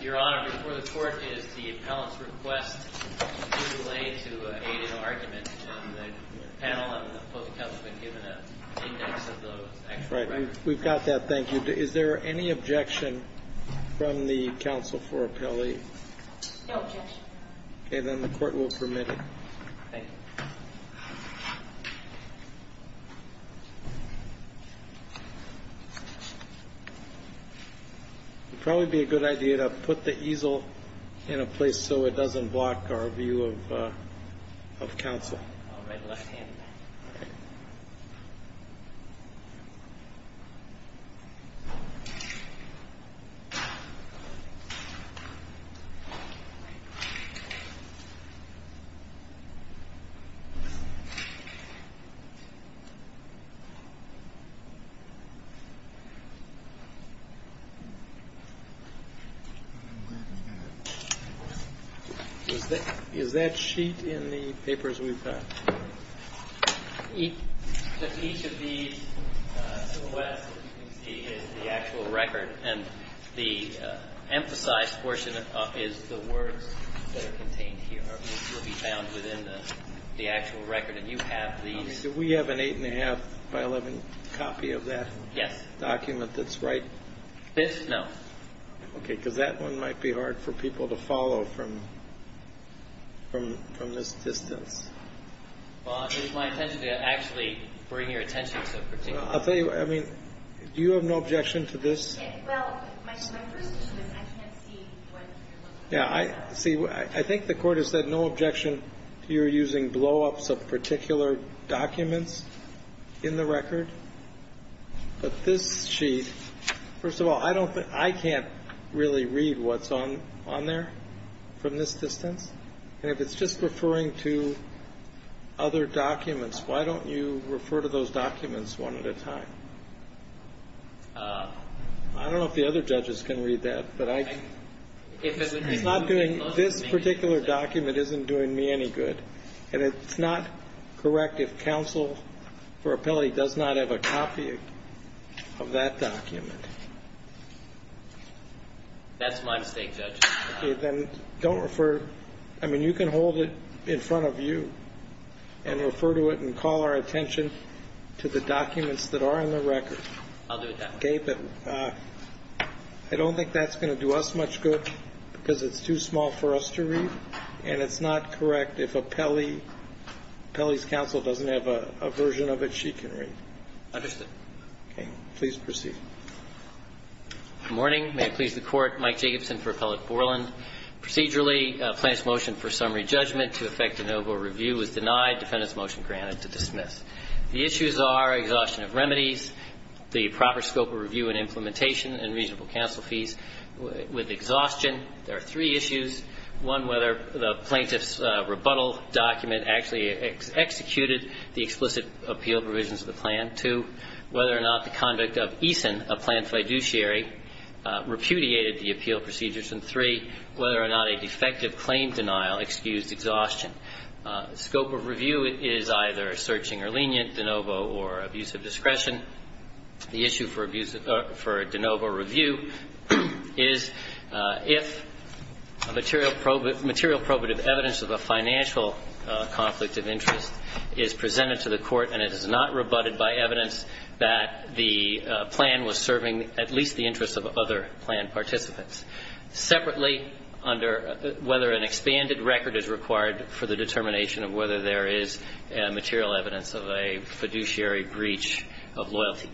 Your Honor, before the Court is the appellant's request to delay to aided argument. The panel and the public have been given an index of those actual records. We've got that, thank you. Is there any objection from the counsel for appellee? No objection. Okay, then the Court will permit it. Thank you. It would probably be a good idea to put the easel in a place so it doesn't block our view of counsel. I'll write left-handed. Is that sheet in the papers we've got? Each of these, QWest, as you can see, is the actual record. And the emphasized portion is the words that are contained here. These will be found within the actual record. And you have these. Do we have an 8 1⁄2 by 11 copy of that document that's right? This? No. Okay, because that one might be hard for people to follow from this distance. Well, it's my intention to actually bring your attention to a particular document. I'll tell you what, I mean, do you have no objection to this? Well, my first issue is I can't see what you're looking at. See, I think the Court has said no objection to your using blow-ups of particular documents in the record. But this sheet, first of all, I can't really read what's on there from this distance. And if it's just referring to other documents, why don't you refer to those documents one at a time? I don't know if the other judges can read that, but I can. This particular document isn't doing me any good. And it's not correct if counsel for appellate does not have a copy of that document. That's my mistake, Judge. Okay, then don't refer to it. I mean, you can hold it in front of you and refer to it and call our attention to the documents that are in the record. I'll do that. Okay, but I don't think that's going to do us much good because it's too small for us to read. And it's not correct if appellee's counsel doesn't have a version of it she can read. Understood. Okay. Please proceed. Good morning. May it please the Court. Mike Jacobson for Appellate Borland. Procedurally, plaintiff's motion for summary judgment to affect de novo review was denied. Defendant's motion granted to dismiss. The issues are exhaustion of remedies, the proper scope of review and implementation and reasonable counsel fees. With exhaustion, there are three issues. One, whether the plaintiff's rebuttal document actually executed the explicit appeal provisions of the plan. Two, whether or not the conduct of ESON, a plan fiduciary, repudiated the appeal procedures. And three, whether or not a defective claim denial excused exhaustion. Scope of review is either searching or lenient, de novo or abuse of discretion. The issue for de novo review is if material probative evidence of a financial conflict of interest is presented to the Court and it is not rebutted by evidence that the plan was serving at least the interests of other plan participants. Separately, whether an expanded record is required for the determination of whether there is material evidence of a fiduciary breach of loyalty.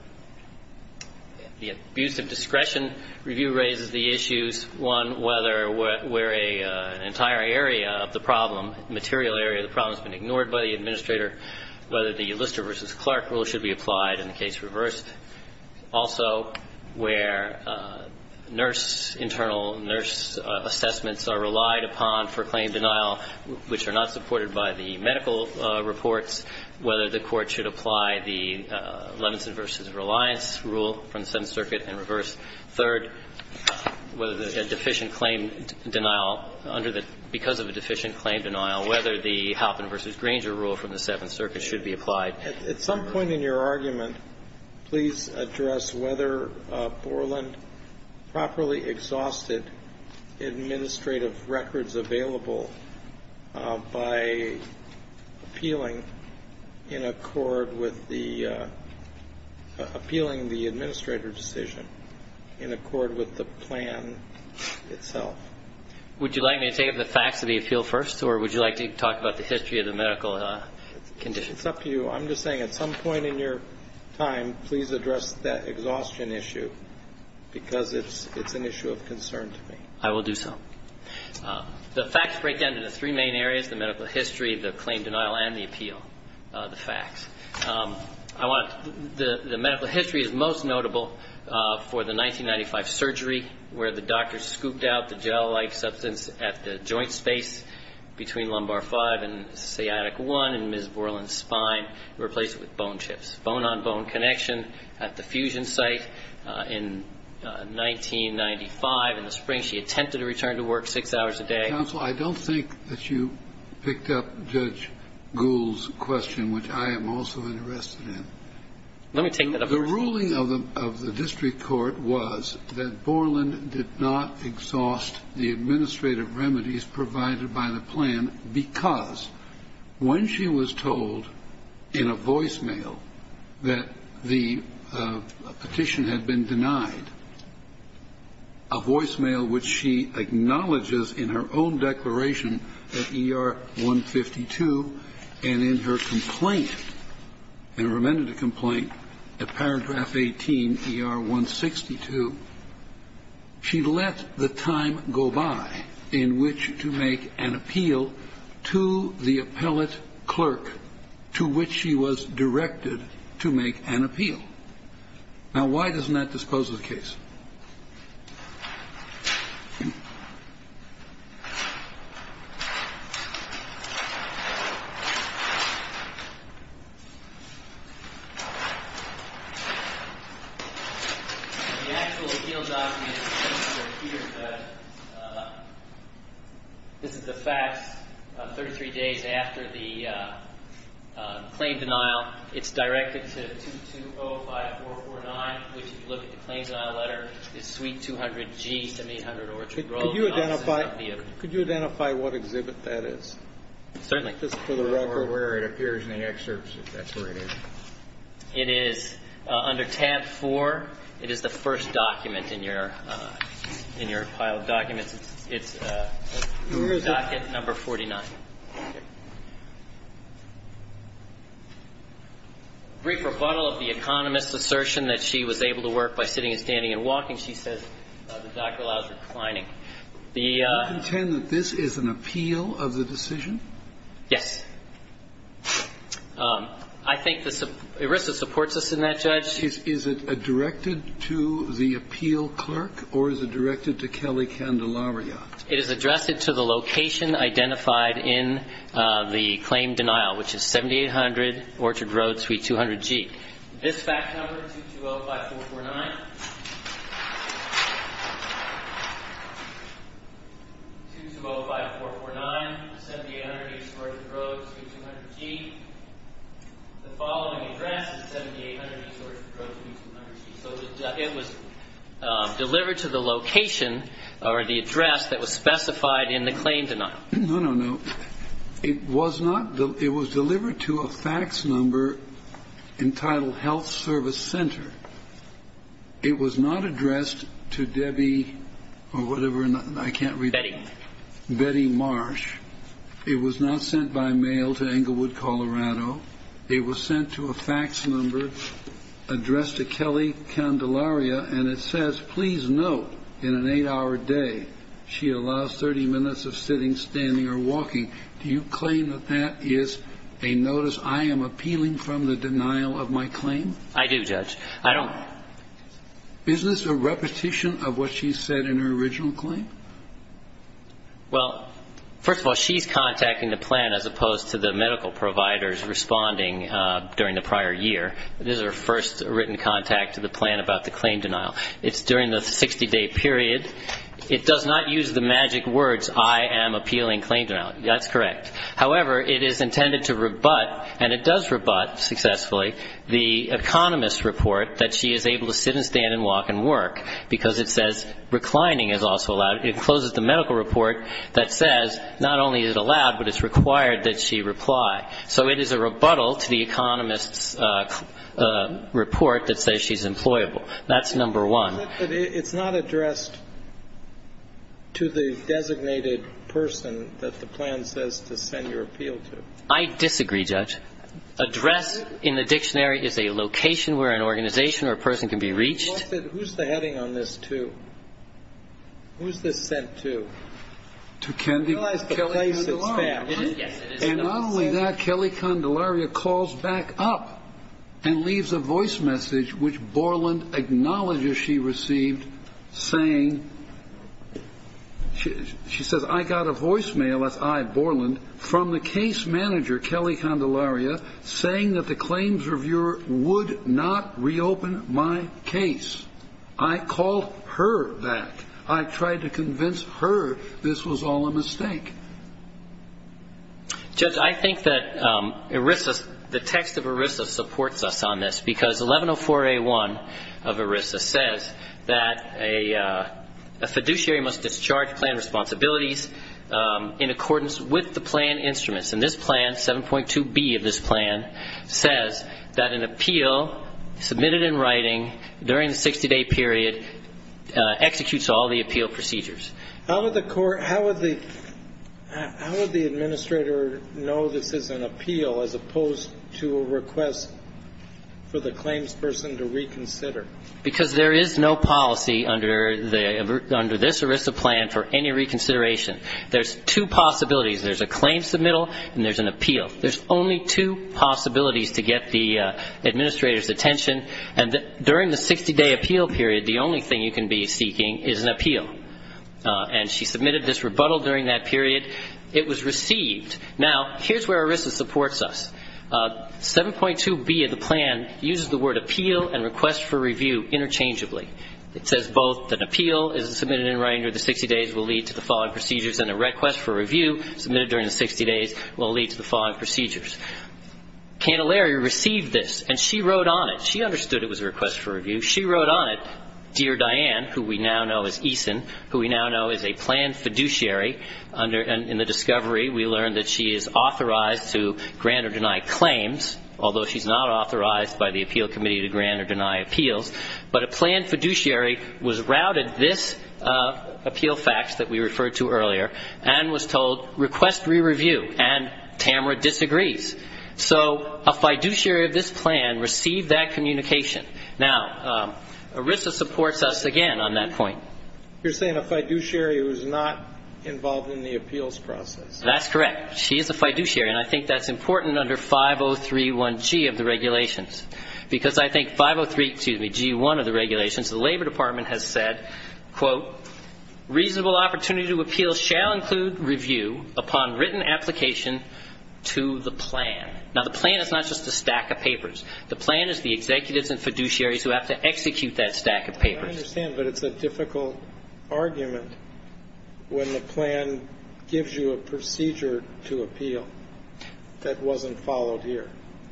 The abuse of discretion review raises the issues, one, whether an entire area of the problem, material area of the problem, has been ignored by the administrator, whether the Lister v. Clark rule should be applied in the case reversed. Also, where nurse, internal nurse assessments are relied upon for claim denial, which are not supported by the medical reports, whether the Court should apply the Levinson v. Reliance rule from the Seventh Circuit in reverse. Third, whether a deficient claim denial under the – because of a deficient claim denial, whether the Halpin v. Granger rule from the Seventh Circuit should be applied. At some point in your argument, please address whether Borland properly exhausted administrative records available by appealing in accord with the – appealing the administrator decision in accord with the plan itself. Would you like me to take up the facts of the appeal first, or would you like to talk about the history of the medical condition? It's up to you. I'm just saying at some point in your time, please address that exhaustion issue, because it's an issue of concern to me. I will do so. The facts break down into three main areas, the medical history, the claim denial, and the appeal, the facts. I want – the medical history is most notable for the 1995 surgery where the doctor scooped out the gel-like substance at the joint space between lumbar five and sciatic one in Ms. Borland's spine and replaced it with bone chips. Bone-on-bone connection at the fusion site in 1995 in the spring. She attempted to return to work six hours a day. Counsel, I don't think that you picked up Judge Gould's question, which I am also interested in. Let me take that up. The ruling of the district court was that Borland did not exhaust the administrative remedies provided by the plan because when she was told in a voicemail that the petition had been denied, a voicemail which she acknowledges in her own declaration at ER 152 and in her complaint, in her remanded complaint at paragraph 18 ER 162, she let the time go by in which to make an appeal to the appellate clerk to which she was directed to make an appeal. Now, why doesn't that dispose of the case? The actual appeal document is here. This is the facts 33 days after the claim denial. It's directed to 2205449, which, if you look at the claims denial letter, is suite 200G, 7800 Orchard Road. Could you identify what exhibit that is? Certainly. I'll put this to the record where it appears in the excerpts, if that's where it is. It is under tab 4. It is the first document in your pile of documents. It's docket number 49. Brief rebuttal of the economist's assertion that she was able to work by sitting and standing and walking, she says the doctor allows reclining. Do you contend that this is an appeal of the decision? Yes. I think that ERISA supports us in that, Judge. Is it directed to the appeal clerk or is it directed to Kelly Candelariat? It is addressed to the location identified in the claim denial, which is 7800 Orchard Road, suite 200G. This fax number, 2205449. 2205449, 7800 Orchard Road, suite 200G. The following address is 7800 Orchard Road, suite 200G. So it was delivered to the location or the address that was specified in the claim denial. No, no, no. It was not. It was delivered to a fax number entitled Health Service Center. It was not addressed to Debbie or whatever. I can't read that. Betty. Betty Marsh. It was not sent by mail to Englewood, Colorado. It was sent to a fax number addressed to Kelly Candelariat, and it says, in an eight-hour day, she allows 30 minutes of sitting, standing, or walking. Do you claim that that is a notice I am appealing from the denial of my claim? I do, Judge. I don't. Is this a repetition of what she said in her original claim? Well, first of all, she's contacting the plan as opposed to the medical providers responding during the prior year. This is her first written contact to the plan about the claim denial. It's during the 60-day period. It does not use the magic words, I am appealing claim denial. That's correct. However, it is intended to rebut, and it does rebut successfully, the economist's report that she is able to sit and stand and walk and work because it says reclining is also allowed. It closes the medical report that says not only is it allowed, but it's required that she reply. So it is a rebuttal to the economist's report that says she's employable. That's number one. But it's not addressed to the designated person that the plan says to send your appeal to. I disagree, Judge. Addressed in the dictionary is a location where an organization or a person can be reached. Who's the heading on this to? Who's this sent to? To Kelly Condelaria. And not only that, Kelly Condelaria calls back up and leaves a voice message which Borland acknowledges she received saying, she says, I got a voicemail, that's I, Borland, from the case manager, Kelly Condelaria, saying that the claims reviewer would not reopen my case. I called her back. I tried to convince her this was all a mistake. Judge, I think that ERISA, the text of ERISA supports us on this because 1104A1 of ERISA says that a fiduciary must discharge plan responsibilities in accordance with the plan instruments. And this plan, 7.2B of this plan, says that an appeal submitted in writing during the 60-day period executes all the appeal procedures. How would the administrator know this is an appeal as opposed to a request for the claims person to reconsider? Because there is no policy under this ERISA plan for any reconsideration. There's two possibilities. There's a claim submittal and there's an appeal. There's only two possibilities to get the administrator's attention. And during the 60-day appeal period, the only thing you can be seeking is an appeal. And she submitted this rebuttal during that period. It was received. Now, here's where ERISA supports us. 7.2B of the plan uses the word appeal and request for review interchangeably. It says both that an appeal is submitted in writing during the 60 days will lead to the following procedures and a request for review submitted during the 60 days will lead to the following procedures. Condelaria received this, and she wrote on it. She understood it was a request for review. She wrote on it, Dear Diane, who we now know as Eason, who we now know is a planned fiduciary. In the discovery, we learned that she is authorized to grant or deny claims, although she's not authorized by the appeal committee to grant or deny appeals. But a planned fiduciary was routed this appeal fax that we referred to earlier and was told request re-review, and Tamara disagrees. So a fiduciary of this plan received that communication. Now, ERISA supports us again on that point. You're saying a fiduciary who is not involved in the appeals process. That's correct. She is a fiduciary, and I think that's important under 5031G of the regulations because I think 503, excuse me, G1 of the regulations, the Labor Department has said, quote, Reasonable opportunity to appeal shall include review upon written application to the plan. Now, the plan is not just a stack of papers. The plan is the executives and fiduciaries who have to execute that stack of papers. I understand, but it's a difficult argument when the plan gives you a procedure to appeal that wasn't followed here.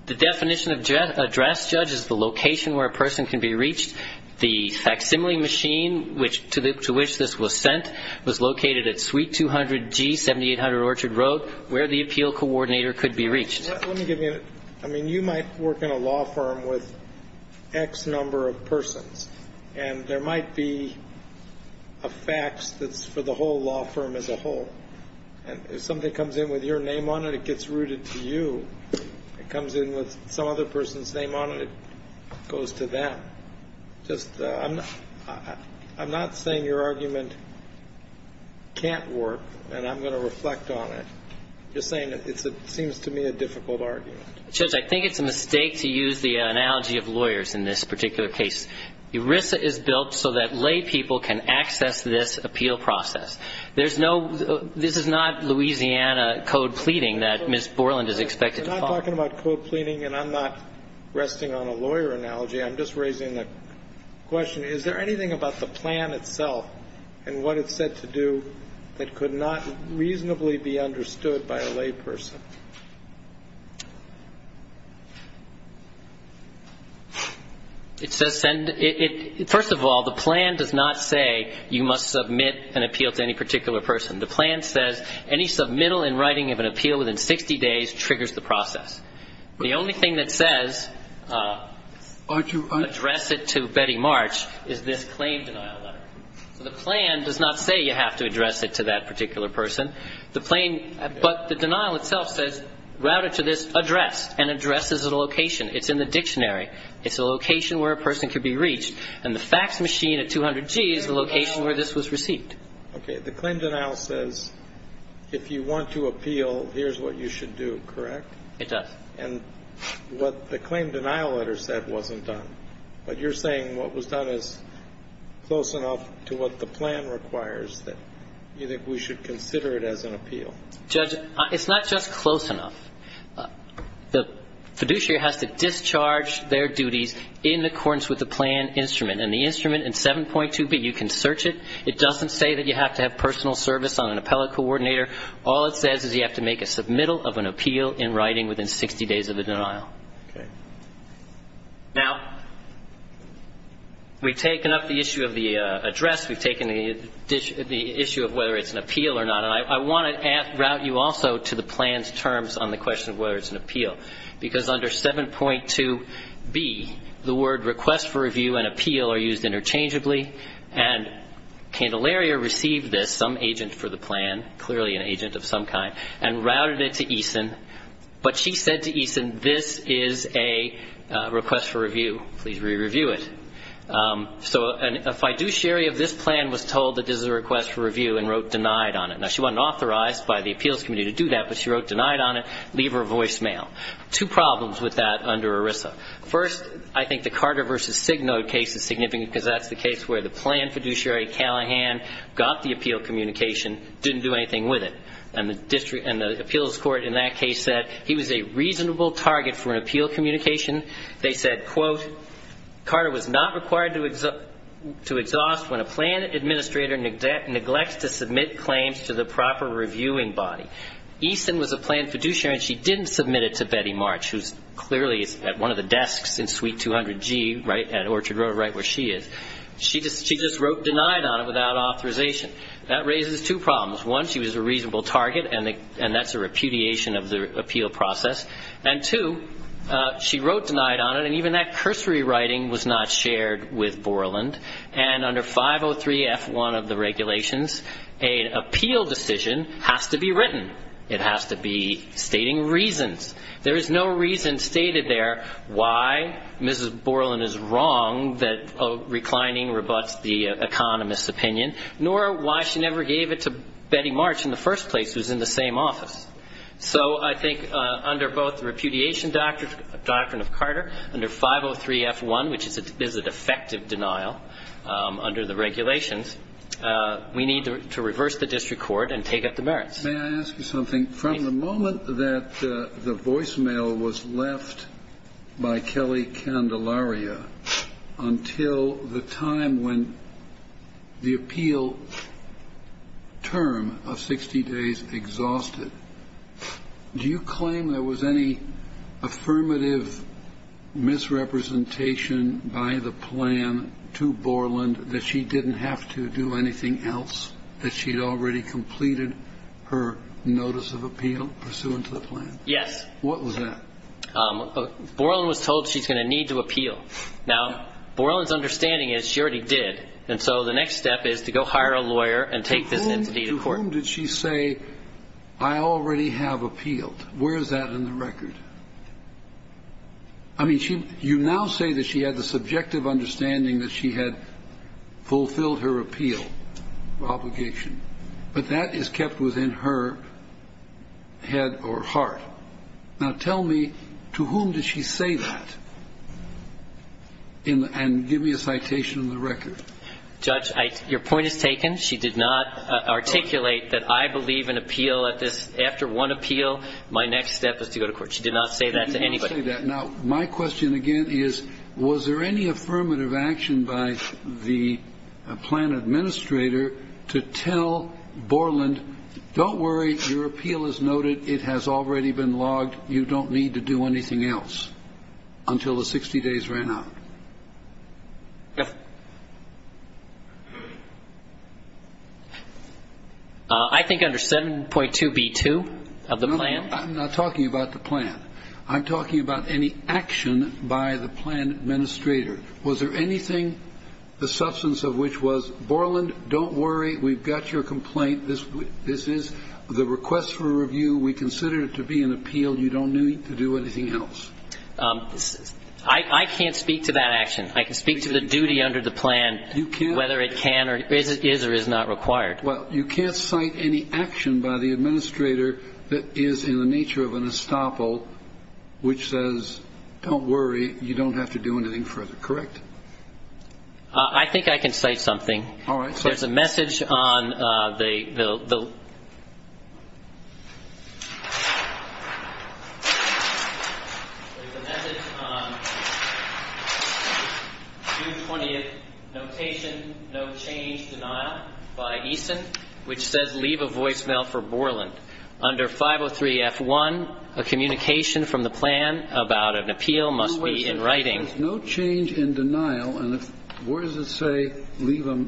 The definition of address, Judge, is the location where a person can be reached, the facsimile machine to which this was sent was located at Suite 200G, 7800 Orchard Road, where the appeal coordinator could be reached. Let me give you a minute. I mean, you might work in a law firm with X number of persons, and there might be a fax that's for the whole law firm as a whole, and if somebody comes in with your name on it, it gets routed to you. If it comes in with some other person's name on it, it goes to them. Just I'm not saying your argument can't work, and I'm going to reflect on it. I'm just saying it seems to me a difficult argument. Judge, I think it's a mistake to use the analogy of lawyers in this particular case. ERISA is built so that lay people can access this appeal process. There's no ñ this is not Louisiana code pleading that Ms. Borland is expected to follow. We're not talking about code pleading, and I'm not resting on a lawyer analogy. I'm just raising the question, is there anything about the plan itself and what it's said to do that could not reasonably be understood by a lay person? It says ñ first of all, the plan does not say you must submit an appeal to any particular person. The plan says any submittal in writing of an appeal within 60 days triggers the process. The only thing that says address it to Betty March is this claim denial letter. So the plan does not say you have to address it to that particular person. The claim ñ but the denial itself says route it to this address, and address is a location. It's in the dictionary. It's a location where a person could be reached. And the fax machine at 200G is the location where this was received. Okay. The claim denial says if you want to appeal, here's what you should do, correct? It does. And what the claim denial letter said wasn't done. But you're saying what was done is close enough to what the plan requires that we should consider it as an appeal? Judge, it's not just close enough. The fiduciary has to discharge their duties in accordance with the plan instrument. And the instrument in 7.2b, you can search it. It doesn't say that you have to have personal service on an appellate coordinator. All it says is you have to make a submittal of an appeal in writing within 60 days of the denial. Okay. Now, we've taken up the issue of the address. We've taken the issue of whether it's an appeal or not. And I want to route you also to the plan's terms on the question of whether it's an appeal. Because under 7.2b, the word request for review and appeal are used interchangeably. And Candelaria received this, some agent for the plan, clearly an agent of some kind, and routed it to Eason. But she said to Eason, this is a request for review. Please re-review it. So a fiduciary of this plan was told that this is a request for review and wrote denied on it. Now, she wasn't authorized by the appeals committee to do that, but she wrote denied on it. Leave her voicemail. Two problems with that under ERISA. First, I think the Carter v. Signode case is significant because that's the case where the plan fiduciary, Callahan, got the appeal communication, didn't do anything with it. And the appeals court in that case said he was a reasonable target for an appeal communication. They said, quote, Carter was not required to exhaust when a plan administrator neglects to submit claims to the proper reviewing body. Eason was a plan fiduciary, and she didn't submit it to Betty March, who clearly is at one of the desks in suite 200G at Orchard Road, right where she is. She just wrote denied on it without authorization. That raises two problems. One, she was a reasonable target, and that's a repudiation of the appeal process. And, two, she wrote denied on it, and even that cursory writing was not shared with Borland. And under 503F1 of the regulations, an appeal decision has to be written. It has to be stating reasons. There is no reason stated there why Mrs. Borland is wrong that reclining rebuts the economist's opinion, nor why she never gave it to Betty March in the first place, who's in the same office. So I think under both repudiation doctrine of Carter, under 503F1, which is a defective denial under the regulations, we need to reverse the district court and take up the merits. May I ask you something? Please. The moment that the voicemail was left by Kelly Candelaria until the time when the appeal term of 60 days exhausted, do you claim there was any affirmative misrepresentation by the plan to Borland that she didn't have to do anything else, that she had already completed her notice of appeal pursuant to the plan? Yes. What was that? Borland was told she's going to need to appeal. Now, Borland's understanding is she already did, and so the next step is to go hire a lawyer and take this entity to court. To whom did she say, I already have appealed? Where is that in the record? I mean, you now say that she had the subjective understanding that she had fulfilled her appeal obligation, but that is kept within her head or heart. Now, tell me, to whom did she say that? And give me a citation of the record. Judge, your point is taken. She did not articulate that I believe an appeal at this. After one appeal, my next step is to go to court. She did not say that to anybody. She did not say that. Now, my question again is, was there any affirmative action by the plan administrator to tell Borland, don't worry, your appeal is noted, it has already been logged, you don't need to do anything else until the 60 days ran out? No. I think under 7.2B2 of the plan. I'm not talking about the plan. I'm talking about any action by the plan administrator. Was there anything, the substance of which was, Borland, don't worry, we've got your complaint, this is the request for review, we consider it to be an appeal, you don't need to do anything else? I can't speak to that action. I can speak to the duty under the plan whether it can or is or is not required. Well, you can't cite any action by the administrator that is in the nature of an estoppel which says, don't worry, you don't have to do anything further, correct? I think I can cite something. All right. There's a message on the, there's a message on June 20th, notation, no change, denial, by Eason, which says leave a voicemail for Borland. Under 503F1, a communication from the plan about an appeal must be in writing. There's no change in denial, and where does it say leave a,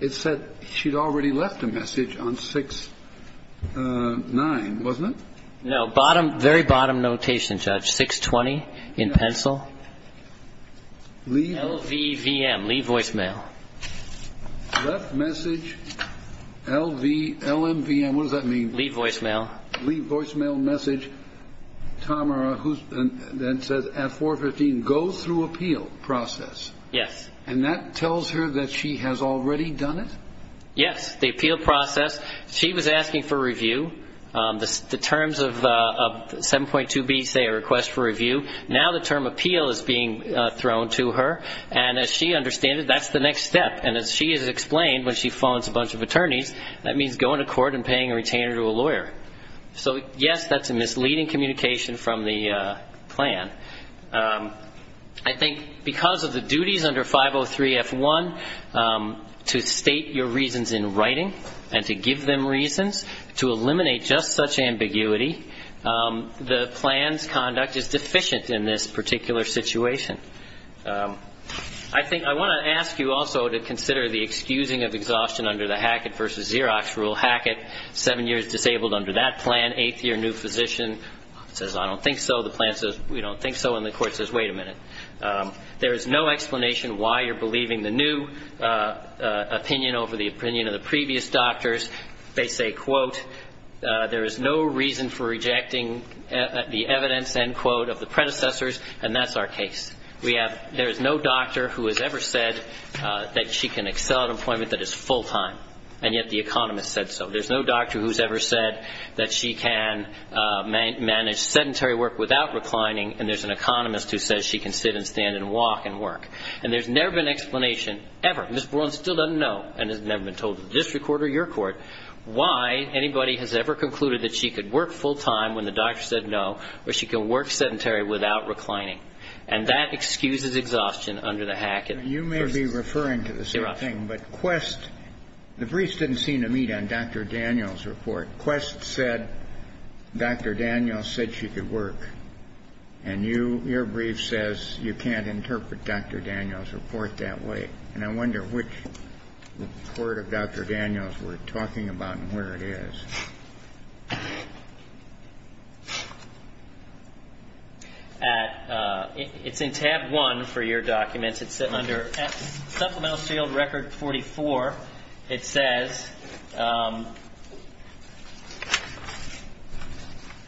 it said she'd already left a message on 6-9, wasn't it? No, bottom, very bottom notation, Judge, 6-20 in pencil. LVVM, leave voicemail. Left message, LV, LMVM, what does that mean? Leave voicemail. Leave voicemail message, Tamara, who then says at 415, go through appeal process. Yes. And that tells her that she has already done it? Yes, the appeal process. She was asking for review. The terms of 7.2b say a request for review. Now the term appeal is being thrown to her, and as she understands it, that's the next step. And as she has explained when she phones a bunch of attorneys, that means going to court and paying a retainer to a lawyer. So, yes, that's a misleading communication from the plan. I think because of the duties under 503F1 to state your reasons in writing and to give them reasons, to eliminate just such ambiguity, the plan's conduct is deficient in this particular situation. I want to ask you also to consider the excusing of exhaustion under the Hackett v. Xerox rule. Hackett, seven years disabled under that plan, eighth year, new physician. Says, I don't think so. The plan says, we don't think so. And the court says, wait a minute. There is no explanation why you're believing the new opinion over the opinion of the previous doctors. They say, quote, there is no reason for rejecting the evidence, end quote, of the predecessors, and that's our case. We have, there is no doctor who has ever said that she can excel at an appointment that is full time. And yet the economist said so. There's no doctor who's ever said that she can manage sedentary work without reclining, and there's an economist who says she can sit and stand and walk and work. And there's never been an explanation, ever. All right. Ms. Boren still doesn't know, and has never been told to the district court or your court, why anybody has ever concluded that she could work full time when the doctor said no, or she can work sedentary without reclining. And that excuses exhaustion under the Hackett v. Xerox. You may be referring to the same thing, but Quest, the briefs didn't seem to meet on Dr. Daniels' report. Quest said Dr. Daniels said she could work. And you, your brief says you can't interpret Dr. Daniels' report that way. And I wonder which report of Dr. Daniels we're talking about and where it is. It's in tab one for your documents. It's under supplemental sealed record 44. It says,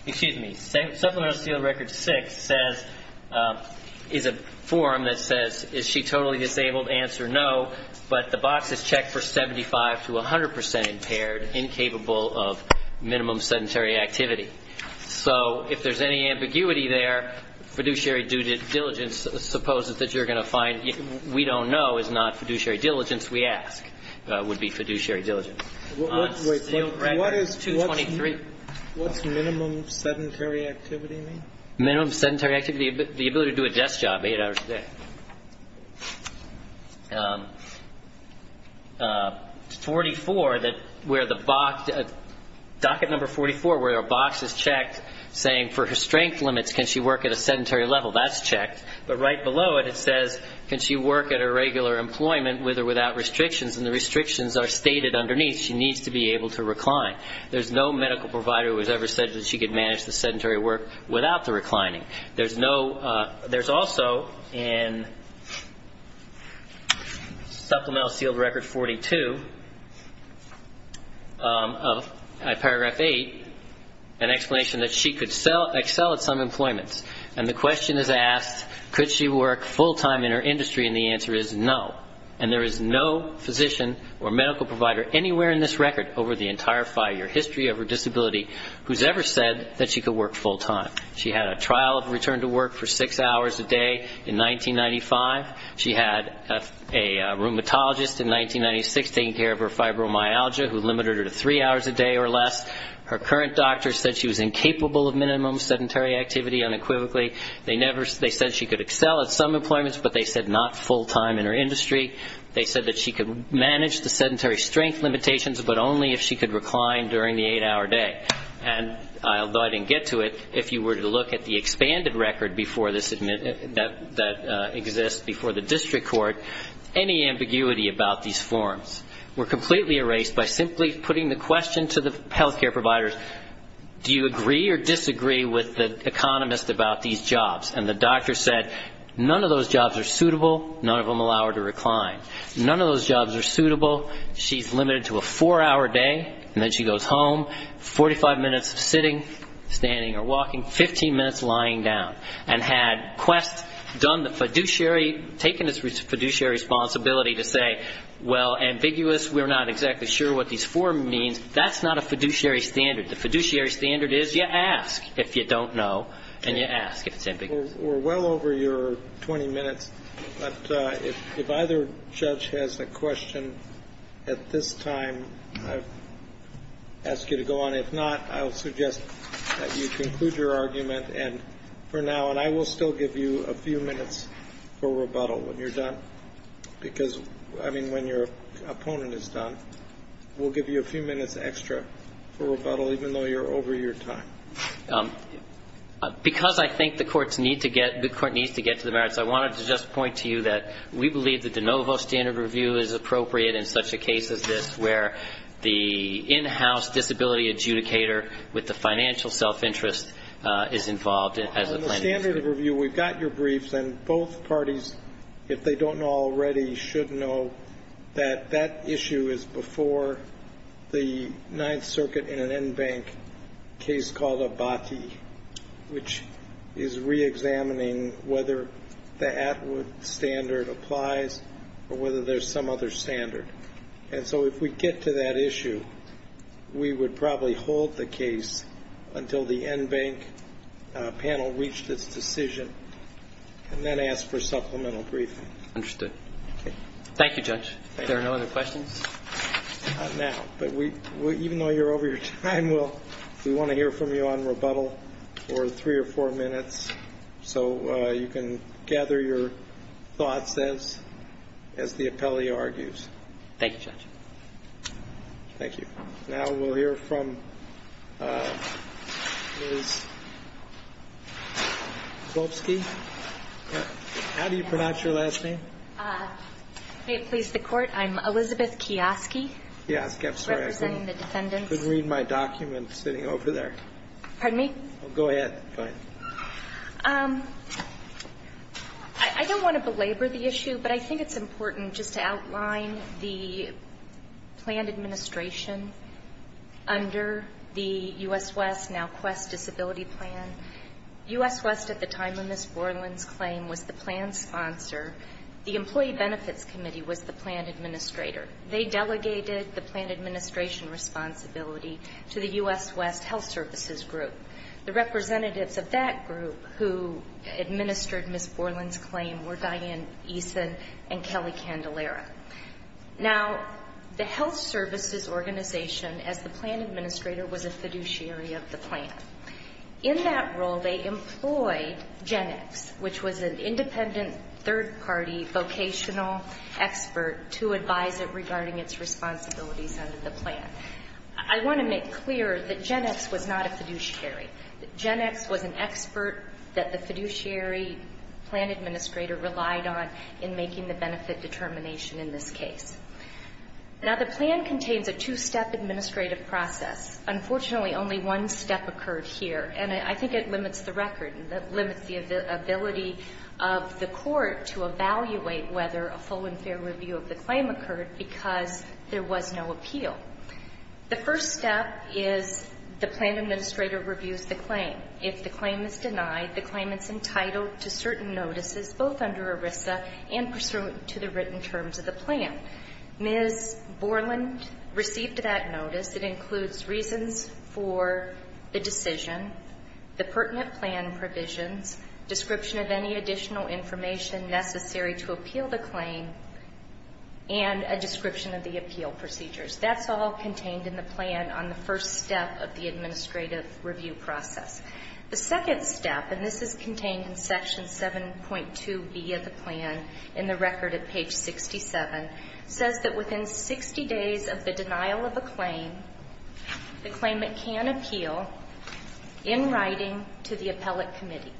excuse me, supplemental sealed record six says, is a form that says is she totally disabled, answer no, but the box is checked for 75 to 100 percent impaired, incapable of minimum sedentary activity. So if there's any ambiguity there, fiduciary due diligence supposes that you're going to find, that we don't know is not fiduciary due diligence, we ask would be fiduciary due diligence. On sealed record 223. What's minimum sedentary activity mean? Minimum sedentary activity, the ability to do a desk job eight hours a day. 44, where the box, docket number 44, where the box is checked saying for her strength limits, can she work at a sedentary level, that's checked. But right below it, it says, can she work at a regular employment with or without restrictions? And the restrictions are stated underneath. She needs to be able to recline. There's no medical provider who has ever said that she could manage the sedentary work without the reclining. There's also in supplemental sealed record 42, paragraph eight, an explanation that she could excel at some employments. And the question is asked, could she work full-time in her industry? And the answer is no. And there is no physician or medical provider anywhere in this record over the entire five-year history of her disability who's ever said that she could work full-time. She had a trial of return to work for six hours a day in 1995. She had a rheumatologist in 1996 taking care of her fibromyalgia, who limited her to three hours a day or less. Her current doctor said she was incapable of minimum sedentary activity unequivocally. They said she could excel at some employments, but they said not full-time in her industry. They said that she could manage the sedentary strength limitations, but only if she could recline during the eight-hour day. And although I didn't get to it, if you were to look at the expanded record that exists before the district court, any ambiguity about these forms were completely erased by simply putting the question to the health care providers, do you agree or disagree with the economist about these jobs? And the doctor said none of those jobs are suitable, none of them allow her to recline. None of those jobs are suitable. She's limited to a four-hour day, and then she goes home, 45 minutes of sitting, standing or walking, 15 minutes lying down. And had Quest done the fiduciary, taken its fiduciary responsibility to say, well, ambiguous, we're not exactly sure what these forms mean, that's not a fiduciary standard. The fiduciary standard is you ask if you don't know, and you ask if it's ambiguous. We're well over your 20 minutes, but if either judge has a question at this time, I ask you to go on. And if not, I will suggest that you conclude your argument for now, and I will still give you a few minutes for rebuttal when you're done. Because, I mean, when your opponent is done, we'll give you a few minutes extra for rebuttal, even though you're over your time. Because I think the courts need to get to the merits, I wanted to just point to you that we believe that the NOVO standard review is appropriate in such a case as this where the in-house disability adjudicator with the financial self-interest is involved. On the standard review, we've got your briefs, and both parties, if they don't know already, should know that that issue is before the Ninth Circuit in an NBANC case called Abati, which is reexamining whether the Atwood standard applies or whether there's some other standard. And so if we get to that issue, we would probably hold the case until the NBANC panel reached its decision, and then ask for supplemental briefing. Understood. Thank you, Judge. Thank you. Are there no other questions? Not now, but even though you're over your time, we want to hear from you on rebuttal for three or four minutes, so you can gather your thoughts as the appellee argues. Thank you, Judge. Thank you. Now we'll hear from Ms. Kowalski. How do you pronounce your last name? May it please the Court, I'm Elizabeth Kiyoski. Kiyoski, I'm sorry. Representing the defendants. Couldn't read my document sitting over there. Pardon me? Go ahead. I don't want to belabor the issue, but I think it's important just to outline the planned administration under the U.S. West Now Quest Disability Plan. U.S. West, at the time of Ms. Borland's claim, was the plan sponsor. The Employee Benefits Committee was the plan administrator. They delegated the plan administration responsibility to the U.S. West Health Services Group. The representatives of that group who administered Ms. Borland's claim were Diane Eason and Kelly Candelera. Now, the health services organization, as the plan administrator, was a fiduciary of the plan. In that role, they employed GenX, which was an independent third-party vocational expert, to advise it regarding its responsibilities under the plan. I want to make clear that GenX was not a fiduciary. GenX was an expert that the fiduciary plan administrator relied on in making the benefit determination in this case. Now, the plan contains a two-step administrative process. Unfortunately, only one step occurred here, and I think it limits the record and limits the ability of the court to evaluate whether a full and fair review of the claim occurred because there was no appeal. The first step is the plan administrator reviews the claim. If the claim is denied, the claimant's entitled to certain notices, both under ERISA and pursuant to the written terms of the plan. Ms. Borland received that notice. It includes reasons for the decision, the pertinent plan provisions, description of any additional information necessary to appeal the claim, and a description of the appeal procedures. That's all contained in the plan on the first step of the administrative review process. The second step, and this is contained in Section 7.2B of the plan in the record at page 67, says that within 60 days of the denial of a claim, the claimant can appeal in writing to the appellate committee.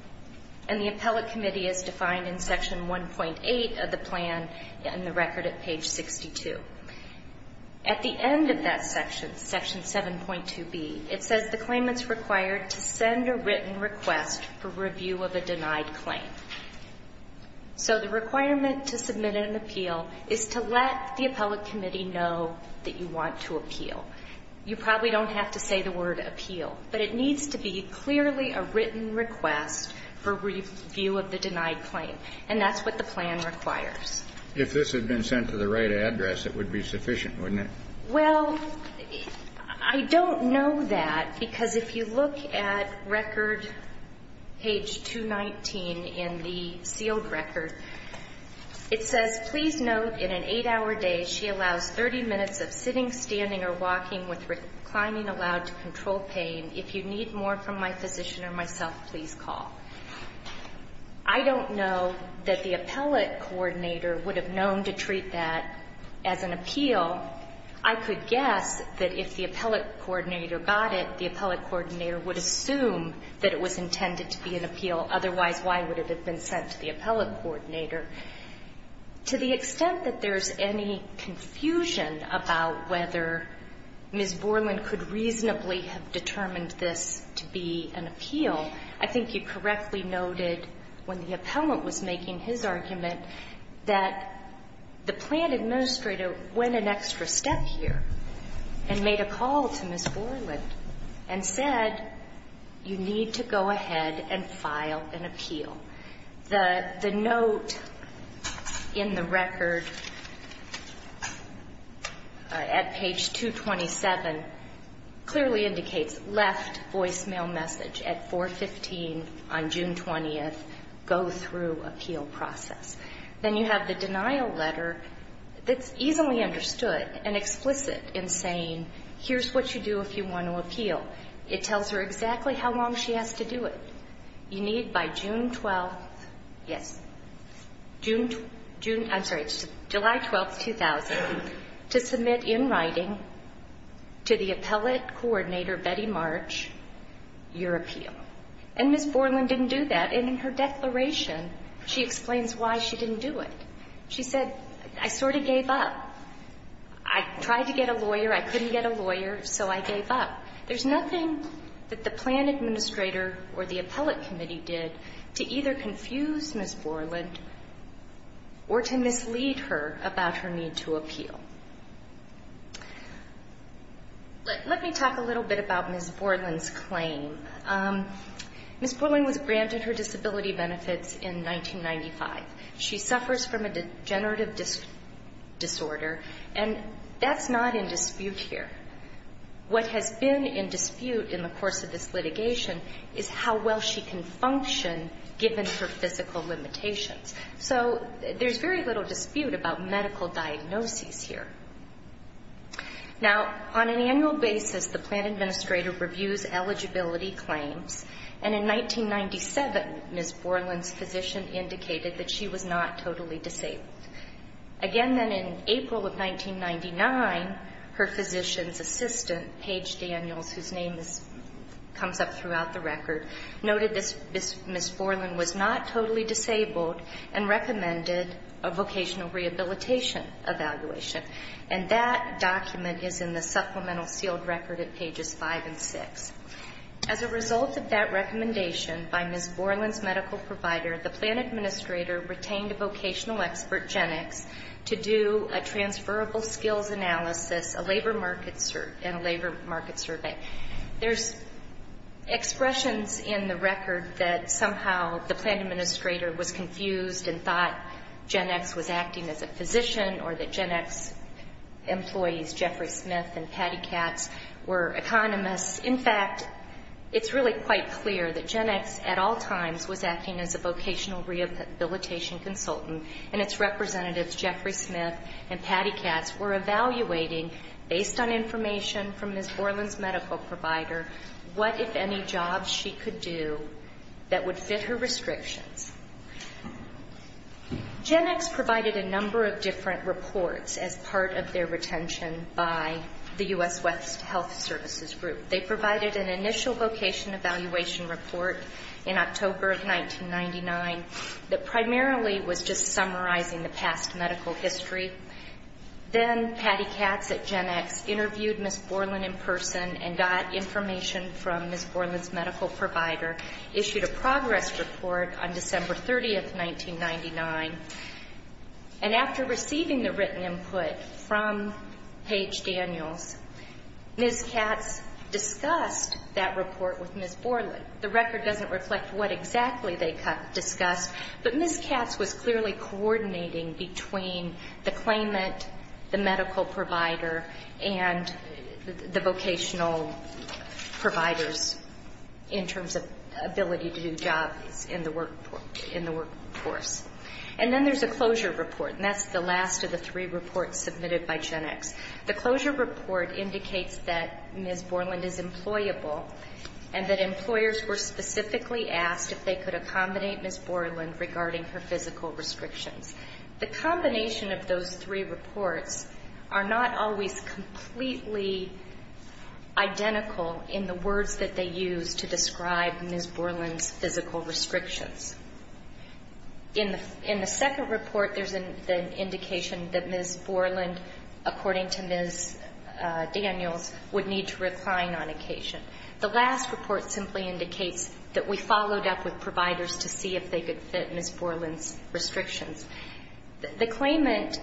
And the appellate committee is defined in Section 1.8 of the plan in the record at page 62. At the end of that section, Section 7.2B, it says the claimant is required to send a written request for review of a denied claim. So the requirement to submit an appeal is to let the appellate committee know that you want to appeal. You probably don't have to say the word appeal, but it needs to be clearly a written request for review of the denied claim. And that's what the plan requires. If this had been sent to the right address, it would be sufficient, wouldn't it? Well, I don't know that, because if you look at record page 219 in the sealed record, it says, Please note, in an 8-hour day, she allows 30 minutes of sitting, standing, or walking with reclining allowed to control pain. If you need more from my physician or myself, please call. I don't know that the appellate coordinator would have known to treat that as an appeal. I could guess that if the appellate coordinator got it, the appellate coordinator would assume that it was intended to be an appeal. Otherwise, why would it have been sent to the appellate coordinator? To the extent that there's any confusion about whether Ms. Borland could reasonably have determined this to be an appeal, I think you correctly noted when the appellant was making his argument that the plan administrator went an extra step here and made a call to Ms. Borland and said, You need to go ahead and file an appeal. The note in the record at page 227 clearly indicates, Left voicemail message at 415 on June 20th. Go through appeal process. Then you have the denial letter that's easily understood and explicit in saying, Here's what you do if you want to appeal. It tells her exactly how long she has to do it. You need by June 12th, yes, I'm sorry, July 12th, 2000, to submit in writing to the appellate coordinator, Betty March, your appeal. And Ms. Borland didn't do that. And in her declaration, she explains why she didn't do it. She said, I sort of gave up. I tried to get a lawyer. I couldn't get a lawyer, so I gave up. There's nothing that the plan administrator or the appellate committee did to either confuse Ms. Borland or to mislead her about her need to appeal. Let me talk a little bit about Ms. Borland's claim. Ms. Borland was granted her disability benefits in 1995. She suffers from a degenerative disorder, and that's not in dispute here. What has been in dispute in the course of this litigation is how well she can function given her physical limitations. So there's very little dispute about medical diagnoses here. Now, on an annual basis, the plan administrator reviews eligibility claims, and in 1997, Ms. Borland's physician indicated that she was not totally disabled. Again, then, in April of 1999, her physician's assistant, Paige Daniels, whose name comes up throughout the record, noted that Ms. Borland was not totally disabled and recommended a vocational rehabilitation evaluation. And that document is in the supplemental sealed record at pages 5 and 6. As a result of that recommendation by Ms. Borland's medical provider, the plan administrator retained a vocational expert, GenX, to do a transferable skills analysis and a labor market survey. There's expressions in the record that somehow the plan administrator was confused and thought GenX was acting as a physician or that GenX employees, Jeffrey Smith and Patty Katz, were economists. In fact, it's really quite clear that GenX at all times was acting as a vocational rehabilitation consultant, and its representatives, Jeffrey Smith and Patty Katz, were evaluating, based on information from Ms. Borland's medical provider, what, if any, jobs she could do that would fit her restrictions. GenX provided a number of different reports as part of their retention by the U.S. West Health Services Group. They provided an initial vocation evaluation report in October of 1999 that primarily was just summarizing the past medical history. Then Patty Katz at GenX interviewed Ms. Borland in person and got information from Ms. Borland's medical provider, issued a progress report on December 30, 1999. And after receiving the written input from Paige Daniels, Ms. Katz discussed that report with Ms. Borland. The record doesn't reflect what exactly they discussed, but Ms. Katz was clearly coordinating between the claimant, the medical provider, and the vocational providers in terms of ability to do jobs in the workforce. And then there's a closure report, and that's the last of the three reports submitted by GenX. The closure report indicates that Ms. Borland is employable and that employers were specifically asked if they could accommodate Ms. Borland regarding her physical restrictions. The combination of those three reports are not always completely identical in the words that they use to describe Ms. Borland's physical restrictions. In the second report, there's an indication that Ms. Borland, according to Ms. Daniels, would need to recline on occasion. The last report simply indicates that we followed up with providers to see if they could fit Ms. Borland's restrictions. The claimant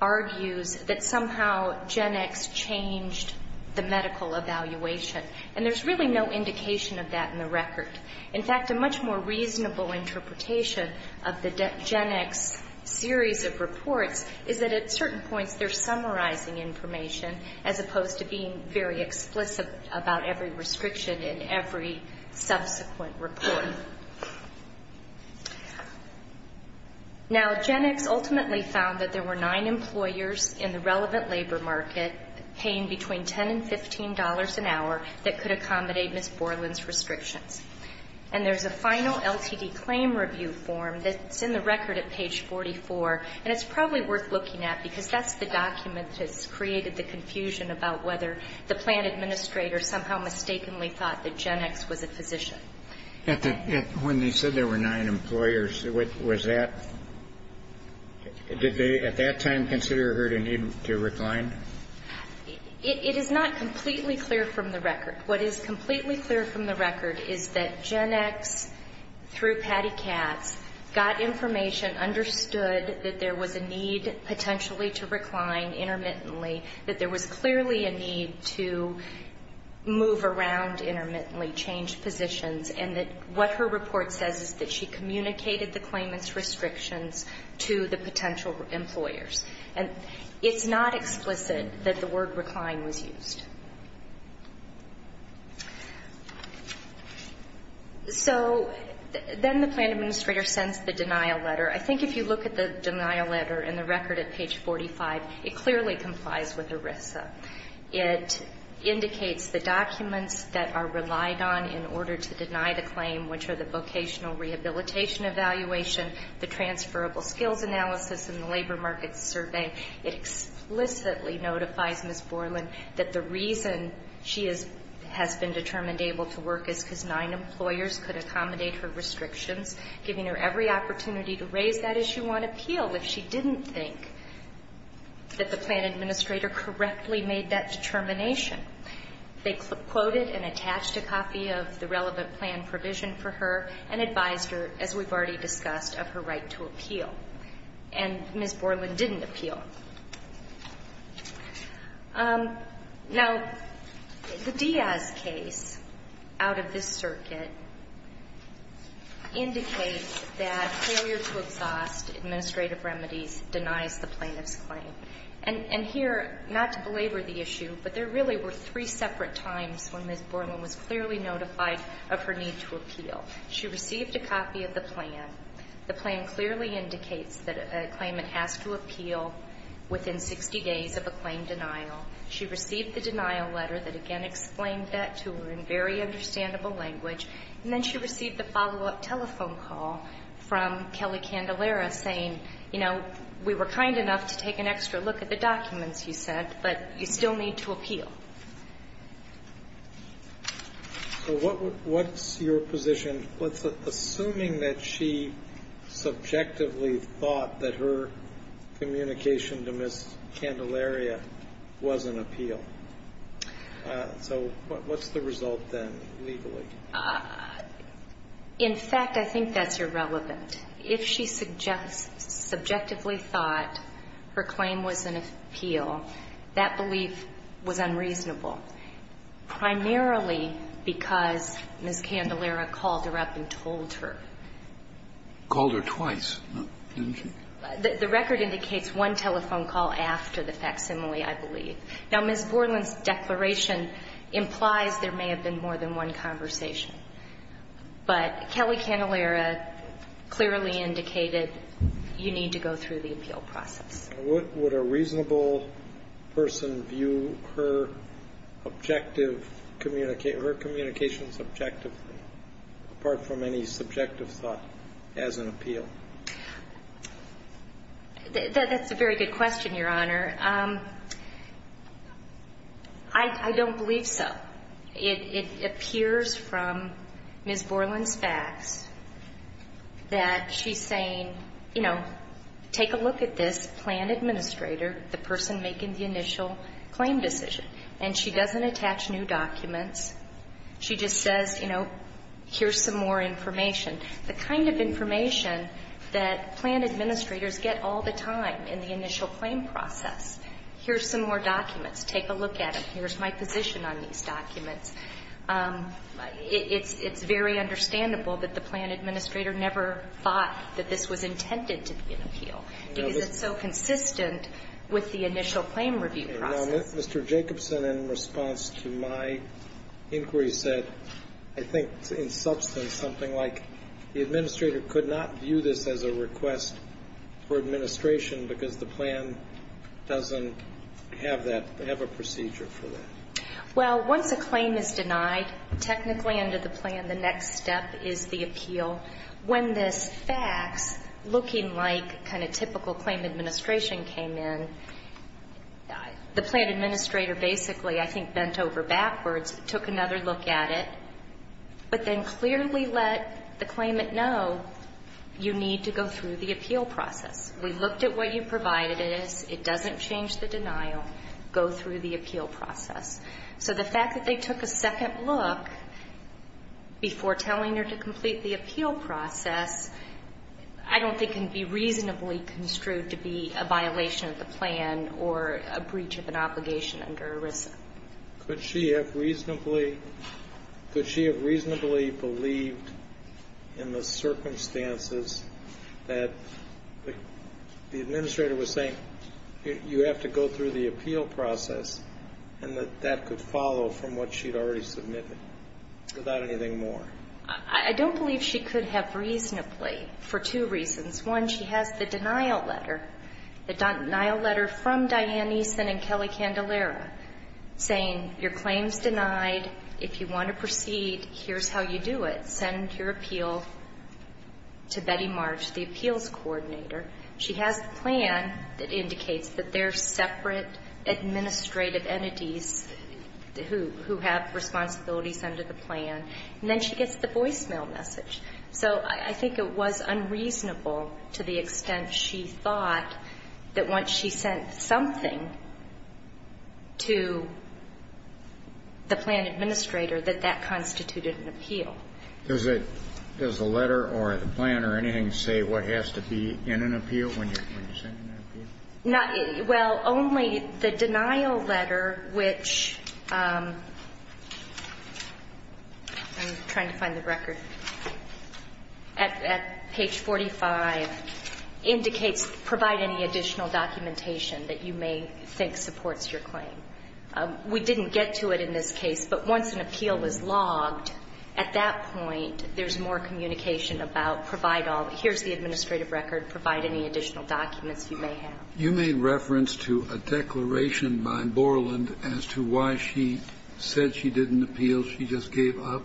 argues that somehow GenX changed the medical evaluation, and there's really no indication of that in the record. In fact, a much more reasonable interpretation of the GenX series of reports is that at certain points they're summarizing information as opposed to being very explicit about every restriction in every subsequent report. Now, GenX ultimately found that there were nine employers in the relevant labor market paying between $10 and $15 an hour that could accommodate Ms. Borland's restrictions. And there's a final LTD claim review form that's in the record at page 44, and it's probably worth looking at because that's the document that's created the confusion about whether the plan administrator somehow mistakenly thought that GenX was a physician. When they said there were nine employers, what was that? Did they at that time consider her to need to recline? It is not completely clear from the record. What is completely clear from the record is that GenX, through Patty Katz, got information, understood that there was a need potentially to recline intermittently, that there was clearly a need to move around intermittently, change positions, and that what her report says is that she communicated the claimant's restrictions to the potential employers. And it's not explicit that the word recline was used. So then the plan administrator sends the denial letter. I think if you look at the denial letter and the record at page 45, it clearly complies with ERISA. It indicates the documents that are relied on in order to deny the claim, which are the vocational rehabilitation evaluation, the transferable skills analysis, and the labor markets survey. It explicitly notifies Ms. Borland that the reason she has been determined able to work is because nine employers could accommodate her restrictions, giving her every opportunity to raise that issue on appeal if she didn't think that the plan administrator correctly made that determination. They quoted and attached a copy of the relevant plan provision for her and advised her, as we've already discussed, of her right to appeal. And Ms. Borland didn't appeal. Now, the Diaz case out of this circuit indicates that failure to exhaust administrative remedies denies the plaintiff's claim. And here, not to belabor the issue, but there really were three separate times when Ms. Borland was clearly notified of her need to appeal. She received a copy of the plan. She received the denial letter that again explained that to her in very understandable language. And then she received a follow-up telephone call from Kelly Candelera saying, you know, we were kind enough to take an extra look at the documents you sent, but you still need to appeal. So what's your position? Assuming that she subjectively thought that her communication to Ms. Candelera was an appeal. So what's the result then, legally? In fact, I think that's irrelevant. If she subjectively thought her claim was an appeal, that belief was unreasonable, primarily because Ms. Candelera called her up and told her. Called her twice, didn't she? The record indicates one telephone call after the facsimile, I believe. Now, Ms. Borland's declaration implies there may have been more than one conversation. But Kelly Candelera clearly indicated you need to go through the appeal process. Would a reasonable person view her communications objectively, apart from any subjective thought, as an appeal? That's a very good question, Your Honor. I don't believe so. It appears from Ms. Borland's facts that she's saying, you know, take a look at this plan administrator, the person making the initial claim decision. And she doesn't attach new documents. She just says, you know, here's some more information. The kind of information that plan administrators get all the time in the initial claim process, here's some more documents. Take a look at them. Here's my position on these documents. It's very understandable that the plan administrator never thought that this was intended to be an appeal. Because it's so consistent with the initial claim review process. Now, Mr. Jacobson, in response to my inquiry, said, I think, in substance, something like the administrator could not view this as a request for administration because the plan doesn't have that, have a procedure for that. Well, once a claim is denied, technically under the plan, the next step is the appeal. So when this facts, looking like kind of typical claim administration came in, the plan administrator basically, I think, bent over backwards, took another look at it, but then clearly let the claimant know, you need to go through the appeal process. We looked at what you provided us. It doesn't change the denial. Go through the appeal process. So the fact that they took a second look before telling her to complete the appeal process, I don't think can be reasonably construed to be a violation of the plan or a breach of an obligation under ERISA. Could she have reasonably believed in the circumstances that the administrator was saying you have to go through the appeal process and that that could follow from what she'd already submitted without anything more? I don't believe she could have reasonably for two reasons. One, she has the denial letter, the denial letter from Diane Eason and Kelly Candelara, saying your claim's denied. If you want to proceed, here's how you do it. Send your appeal to Betty March, the appeals coordinator. She has the plan that indicates that there are separate administrative entities who have responsibilities under the plan. And then she gets the voicemail message. So I think it was unreasonable to the extent she thought that once she sent something to the plan administrator that that constituted an appeal. Does it – does the letter or the plan or anything say what has to be in an appeal when you're sending an appeal? Well, only the denial letter, which – I'm trying to find the record – at page 45 indicates provide any additional documentation that you may think supports your claim. We didn't get to it in this case, but once an appeal was logged, at that point there's more communication about provide all – here's the administrative record, provide any additional documents you may have. You made reference to a declaration by Borland as to why she said she didn't appeal, she just gave up.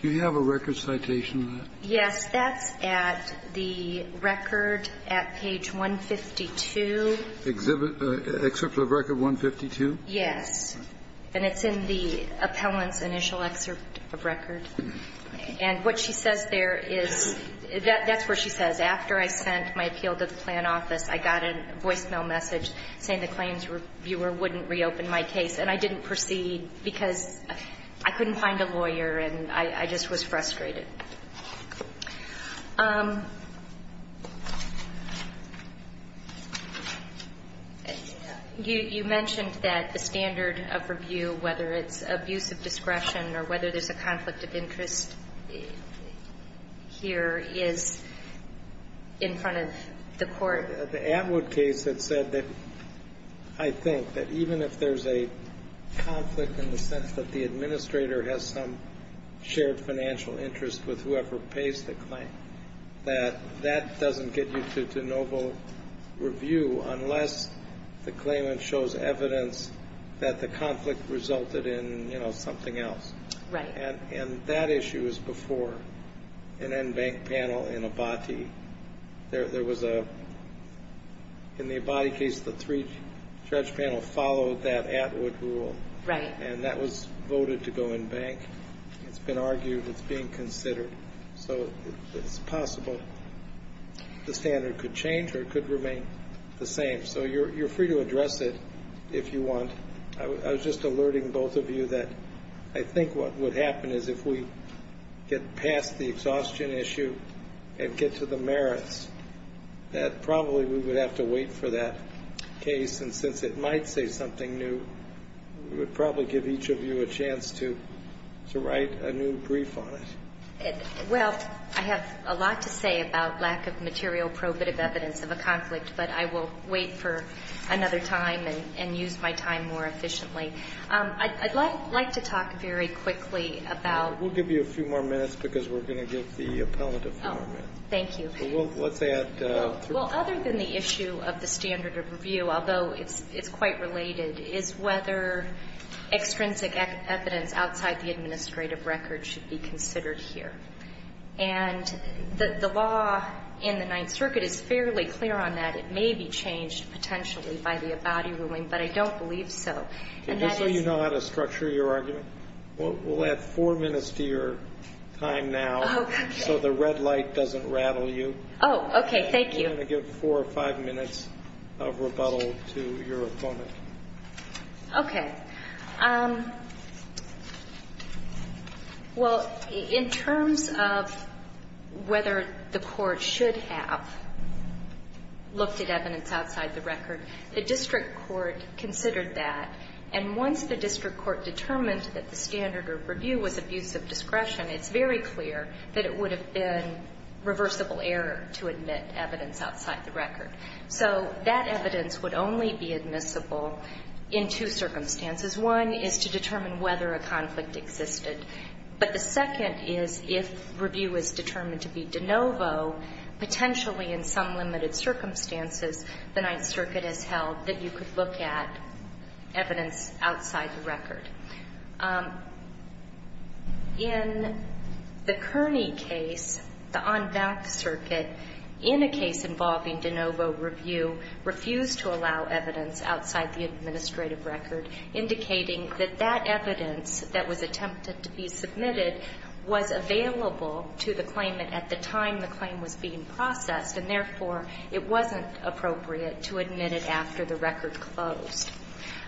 Do you have a record citation of that? Yes. That's at the record at page 152. Exhibit – excerpt of record 152? Yes. And it's in the appellant's initial excerpt of record. And what she says there is – that's where she says, after I sent my appeal to the plan office, I got a voicemail message saying the claims reviewer wouldn't reopen my case, and I didn't proceed because I couldn't find a lawyer and I just was frustrated. You mentioned that the standard of review, whether it's abuse of discretion or whether there's a conflict of interest here, is in front of the court. The Atwood case had said that, I think, that even if there's a conflict in the sense that the administrator has some shared financial interest with whoever pays the claim, that that doesn't get you to noble review unless the claimant shows evidence that the conflict resulted in, you know, something else. Right. And that issue was before an en banc panel in Abati. There was a – in the Abati case, the three-judge panel followed that Atwood rule. Right. And that was voted to go en banc. It's been argued. It's being considered. So it's possible the standard could change or it could remain the same. So you're free to address it if you want. I was just alerting both of you that I think what would happen is if we get past the exhaustion issue and get to the merits, that probably we would have to wait for that case. And since it might say something new, we would probably give each of you a chance to write a new brief on it. Well, I have a lot to say about lack of material probative evidence of a conflict, but I will wait for another time and use my time more efficiently. I'd like to talk very quickly about – We'll give you a few more minutes because we're going to give the appellant a few more minutes. Thank you. Well, let's add – I have a question for you, although it's quite related, is whether extrinsic evidence outside the administrative record should be considered here. And the law in the Ninth Circuit is fairly clear on that. It may be changed potentially by the Abadi ruling, but I don't believe so. And that is – Just so you know how to structure your argument, we'll add four minutes to your time now so the red light doesn't rattle you. Oh, okay. Thank you. I'm going to give four or five minutes of rebuttal to your opponent. Okay. Well, in terms of whether the court should have looked at evidence outside the record, the district court considered that. And once the district court determined that the standard of review was abuse of discretion, it's very clear that it would have been reversible error to admit evidence outside the record. So that evidence would only be admissible in two circumstances. One is to determine whether a conflict existed. But the second is if review is determined to be de novo, potentially in some limited circumstances, the Ninth Circuit has held that you could look at evidence outside the record. In the Kearney case, the On Back Circuit, in a case involving de novo review, refused to allow evidence outside the administrative record, indicating that that evidence that was attempted to be submitted was available to the claimant at the time the claim was being processed, and therefore it wasn't appropriate to admit it after the record closed.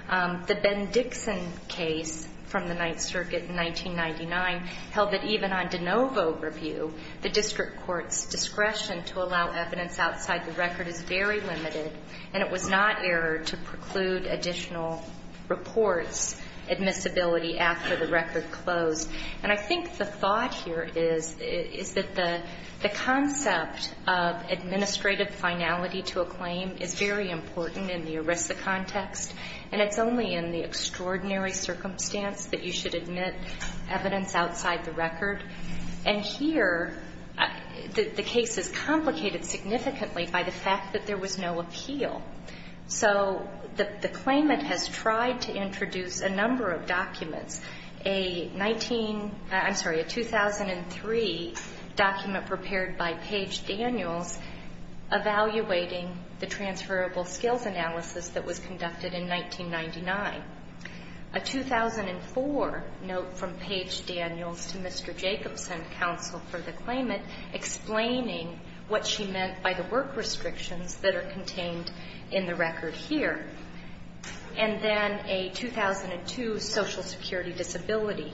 The Ben Dixon case from the Ninth Circuit in 1999 held that even on de novo review, the district court's discretion to allow evidence outside the record is very limited, and it was not error to preclude additional reports, admissibility after the record closed. And I think the thought here is, is that the concept of administrative finality to a claim is very important in the ERISA context, and it's only in the extraordinary circumstance that you should admit evidence outside the record. And here, the case is complicated significantly by the fact that there was no appeal. So the claimant has tried to introduce a number of documents, a 19 — I'm sorry, a 2003 document prepared by Page Daniels, evaluating the transferable skills analysis that was conducted in 1999, a 2004 note from Page Daniels to Mr. Jacobson, counsel for the claimant, explaining what she meant by the work restrictions that are contained in the record here, and then a 2002 Social Security disability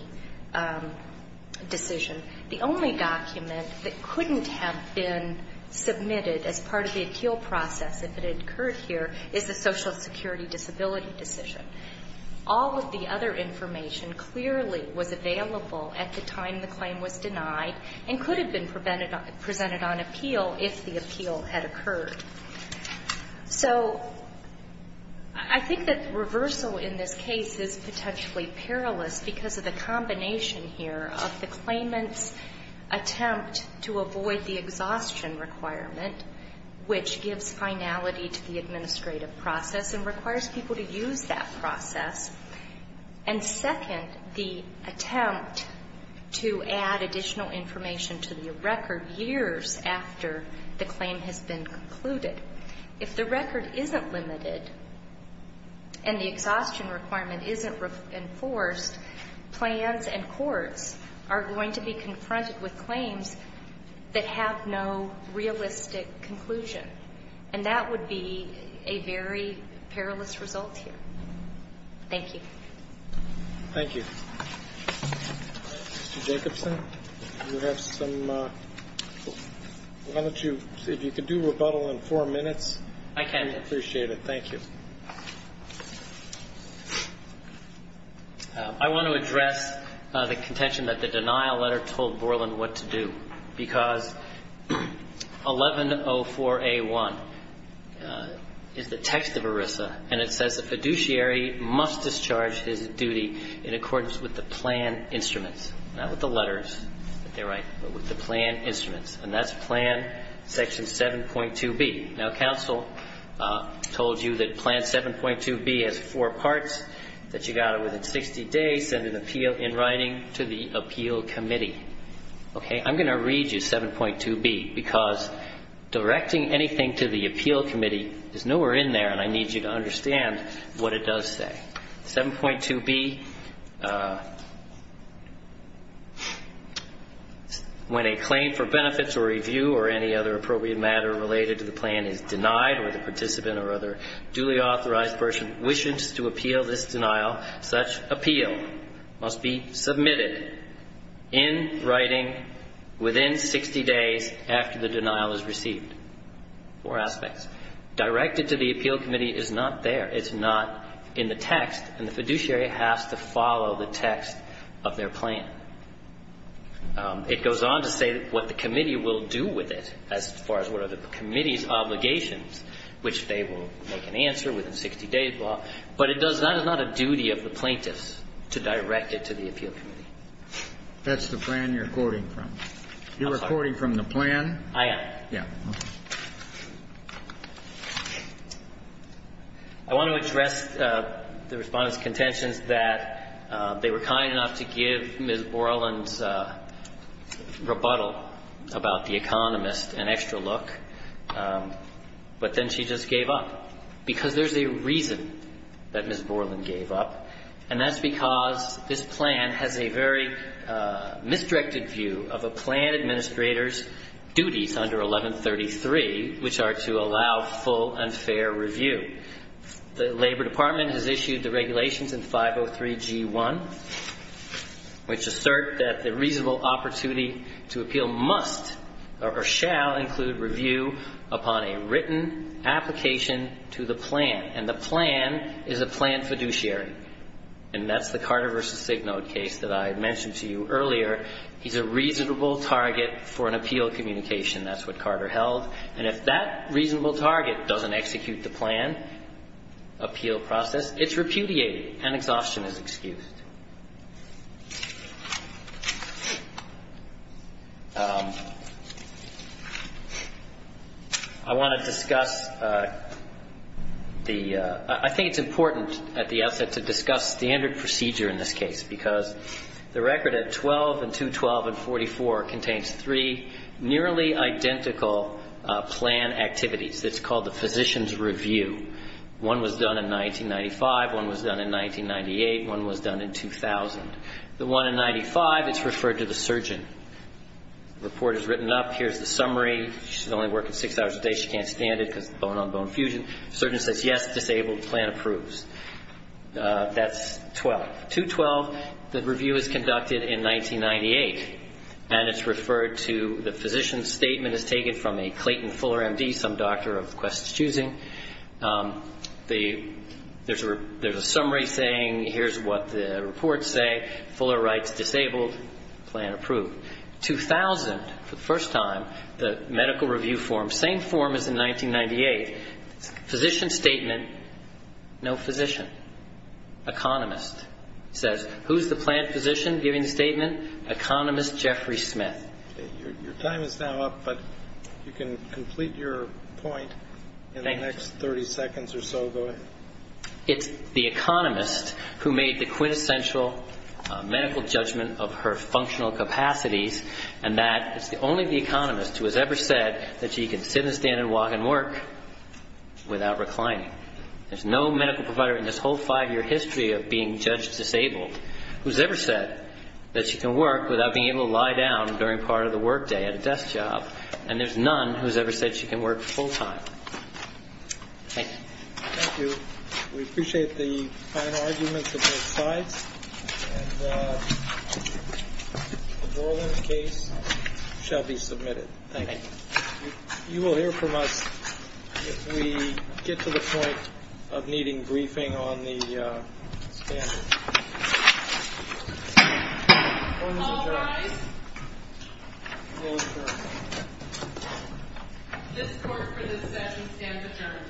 decision, the only document that couldn't have been submitted as part of the appeal process if it had occurred here is the Social Security disability decision. All of the other information clearly was available at the time the claim was denied and could have been presented on appeal if the appeal had occurred. So I think that reversal in this case is potentially perilous because of the combination here of the claimant's attempt to avoid the exhaustion requirement, which gives finality to the administrative process and requires people to use that process, and second, the attempt to add additional information to the record years after the claim has been concluded. If the record isn't limited and the exhaustion requirement isn't enforced, plans and courts are going to be confronted with claims that have no realistic conclusion, and that would be a very perilous result here. Thank you. Roberts. Thank you. Mr. Jacobson, you have some ñ why don't you, if you could do rebuttal in four minutes. I can. I appreciate it. Thank you. I want to address the contention that the denial letter told Borland what to do because 1104A1 is the text of ERISA, and it says the fiduciary must discharge his duty in accordance with the plan instruments, not with the letters that they write, but with the plan instruments, and that's Plan Section 7.2B. Now, counsel told you that Plan 7.2B has four parts, that you've got to, within 60 days, send an appeal in writing to the appeal committee. I'm going to read you 7.2B because directing anything to the appeal committee is nowhere in there, and I need you to understand what it does say. 7.2B, when a claim for benefits or review or any other appropriate matter related to the plan is denied or the participant or other duly authorized person wishes to appeal this denial, such appeal must be submitted in writing within 60 days after the denial is received. Four aspects. Directed to the appeal committee is not there. It's not in the text, and the fiduciary has to follow the text of their plan. It goes on to say what the committee will do with it as far as what are the committee's obligations, which they will make an answer within 60 days. But it does not, it's not a duty of the plaintiffs to direct it to the appeal committee. That's the plan you're quoting from. I'm sorry. You're quoting from the plan. I am. Yeah. I want to address the Respondent's contentions that they were kind enough to give Ms. Borland's rebuttal about the economist an extra look, but then she just gave up, because there's a reason that Ms. Borland gave up, and that's because this plan has a very misdirected view of a plan administrator's duties under 1133, which are to allow full and fair review. The Labor Department has issued the regulations in 503G1, which assert that the reasonable opportunity to appeal must or shall include review upon a written application to the plan, and the plan is a plan fiduciary. And that's the Carter v. Signode case that I mentioned to you earlier. He's a reasonable target for an appeal communication. That's what Carter held. And if that reasonable target doesn't execute the plan appeal process, it's repudiated and exhaustion is excused. I want to discuss the ‑‑ I think it's important at the outset to discuss standard procedure in this case, because the record at 12 and 212 and 44 contains three nearly identical plan activities that's called the physician's review. One was done in 1995. One was done in 1998. One was done in 2000. The one in 95, it's referred to the surgeon. The report is written up. Here's the summary. She's only working six hours a day. She can't stand it because of the bone-on-bone fusion. The surgeon says, yes, disabled. The plan approves. That's 12. 212, the review is conducted in 1998, and it's referred to the physician's statement is taken from a Clayton Fuller M.D., some doctor of quest choosing. There's a summary saying here's what the reports say. Fuller writes disabled, plan approved. 2000, for the first time, the medical review form, same form as in 1998, physician statement, no physician, economist, says who's the plan physician giving the statement? Economist Jeffrey Smith. Your time is now up, but you can complete your point in the next 30 seconds or so. Go ahead. It's the economist who made the quintessential medical judgment of her functional capacities and that it's only the economist who has ever said that she can sit and stand and walk and work without reclining. There's no medical provider in this whole five-year history of being judged disabled who's ever said that she can work without being able to lie down during part of the work day at a desk job. And there's none who's ever said she can work full time. Thank you. Thank you. We appreciate the final arguments of both sides. And the Dorland case shall be submitted. Thank you. You will hear from us if we get to the point of needing briefing on the standard. All rise. This court for this session stands adjourned.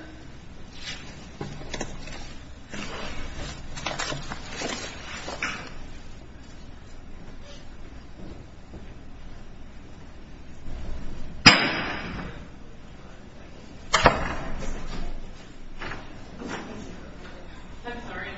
I'm sorry. Okay. END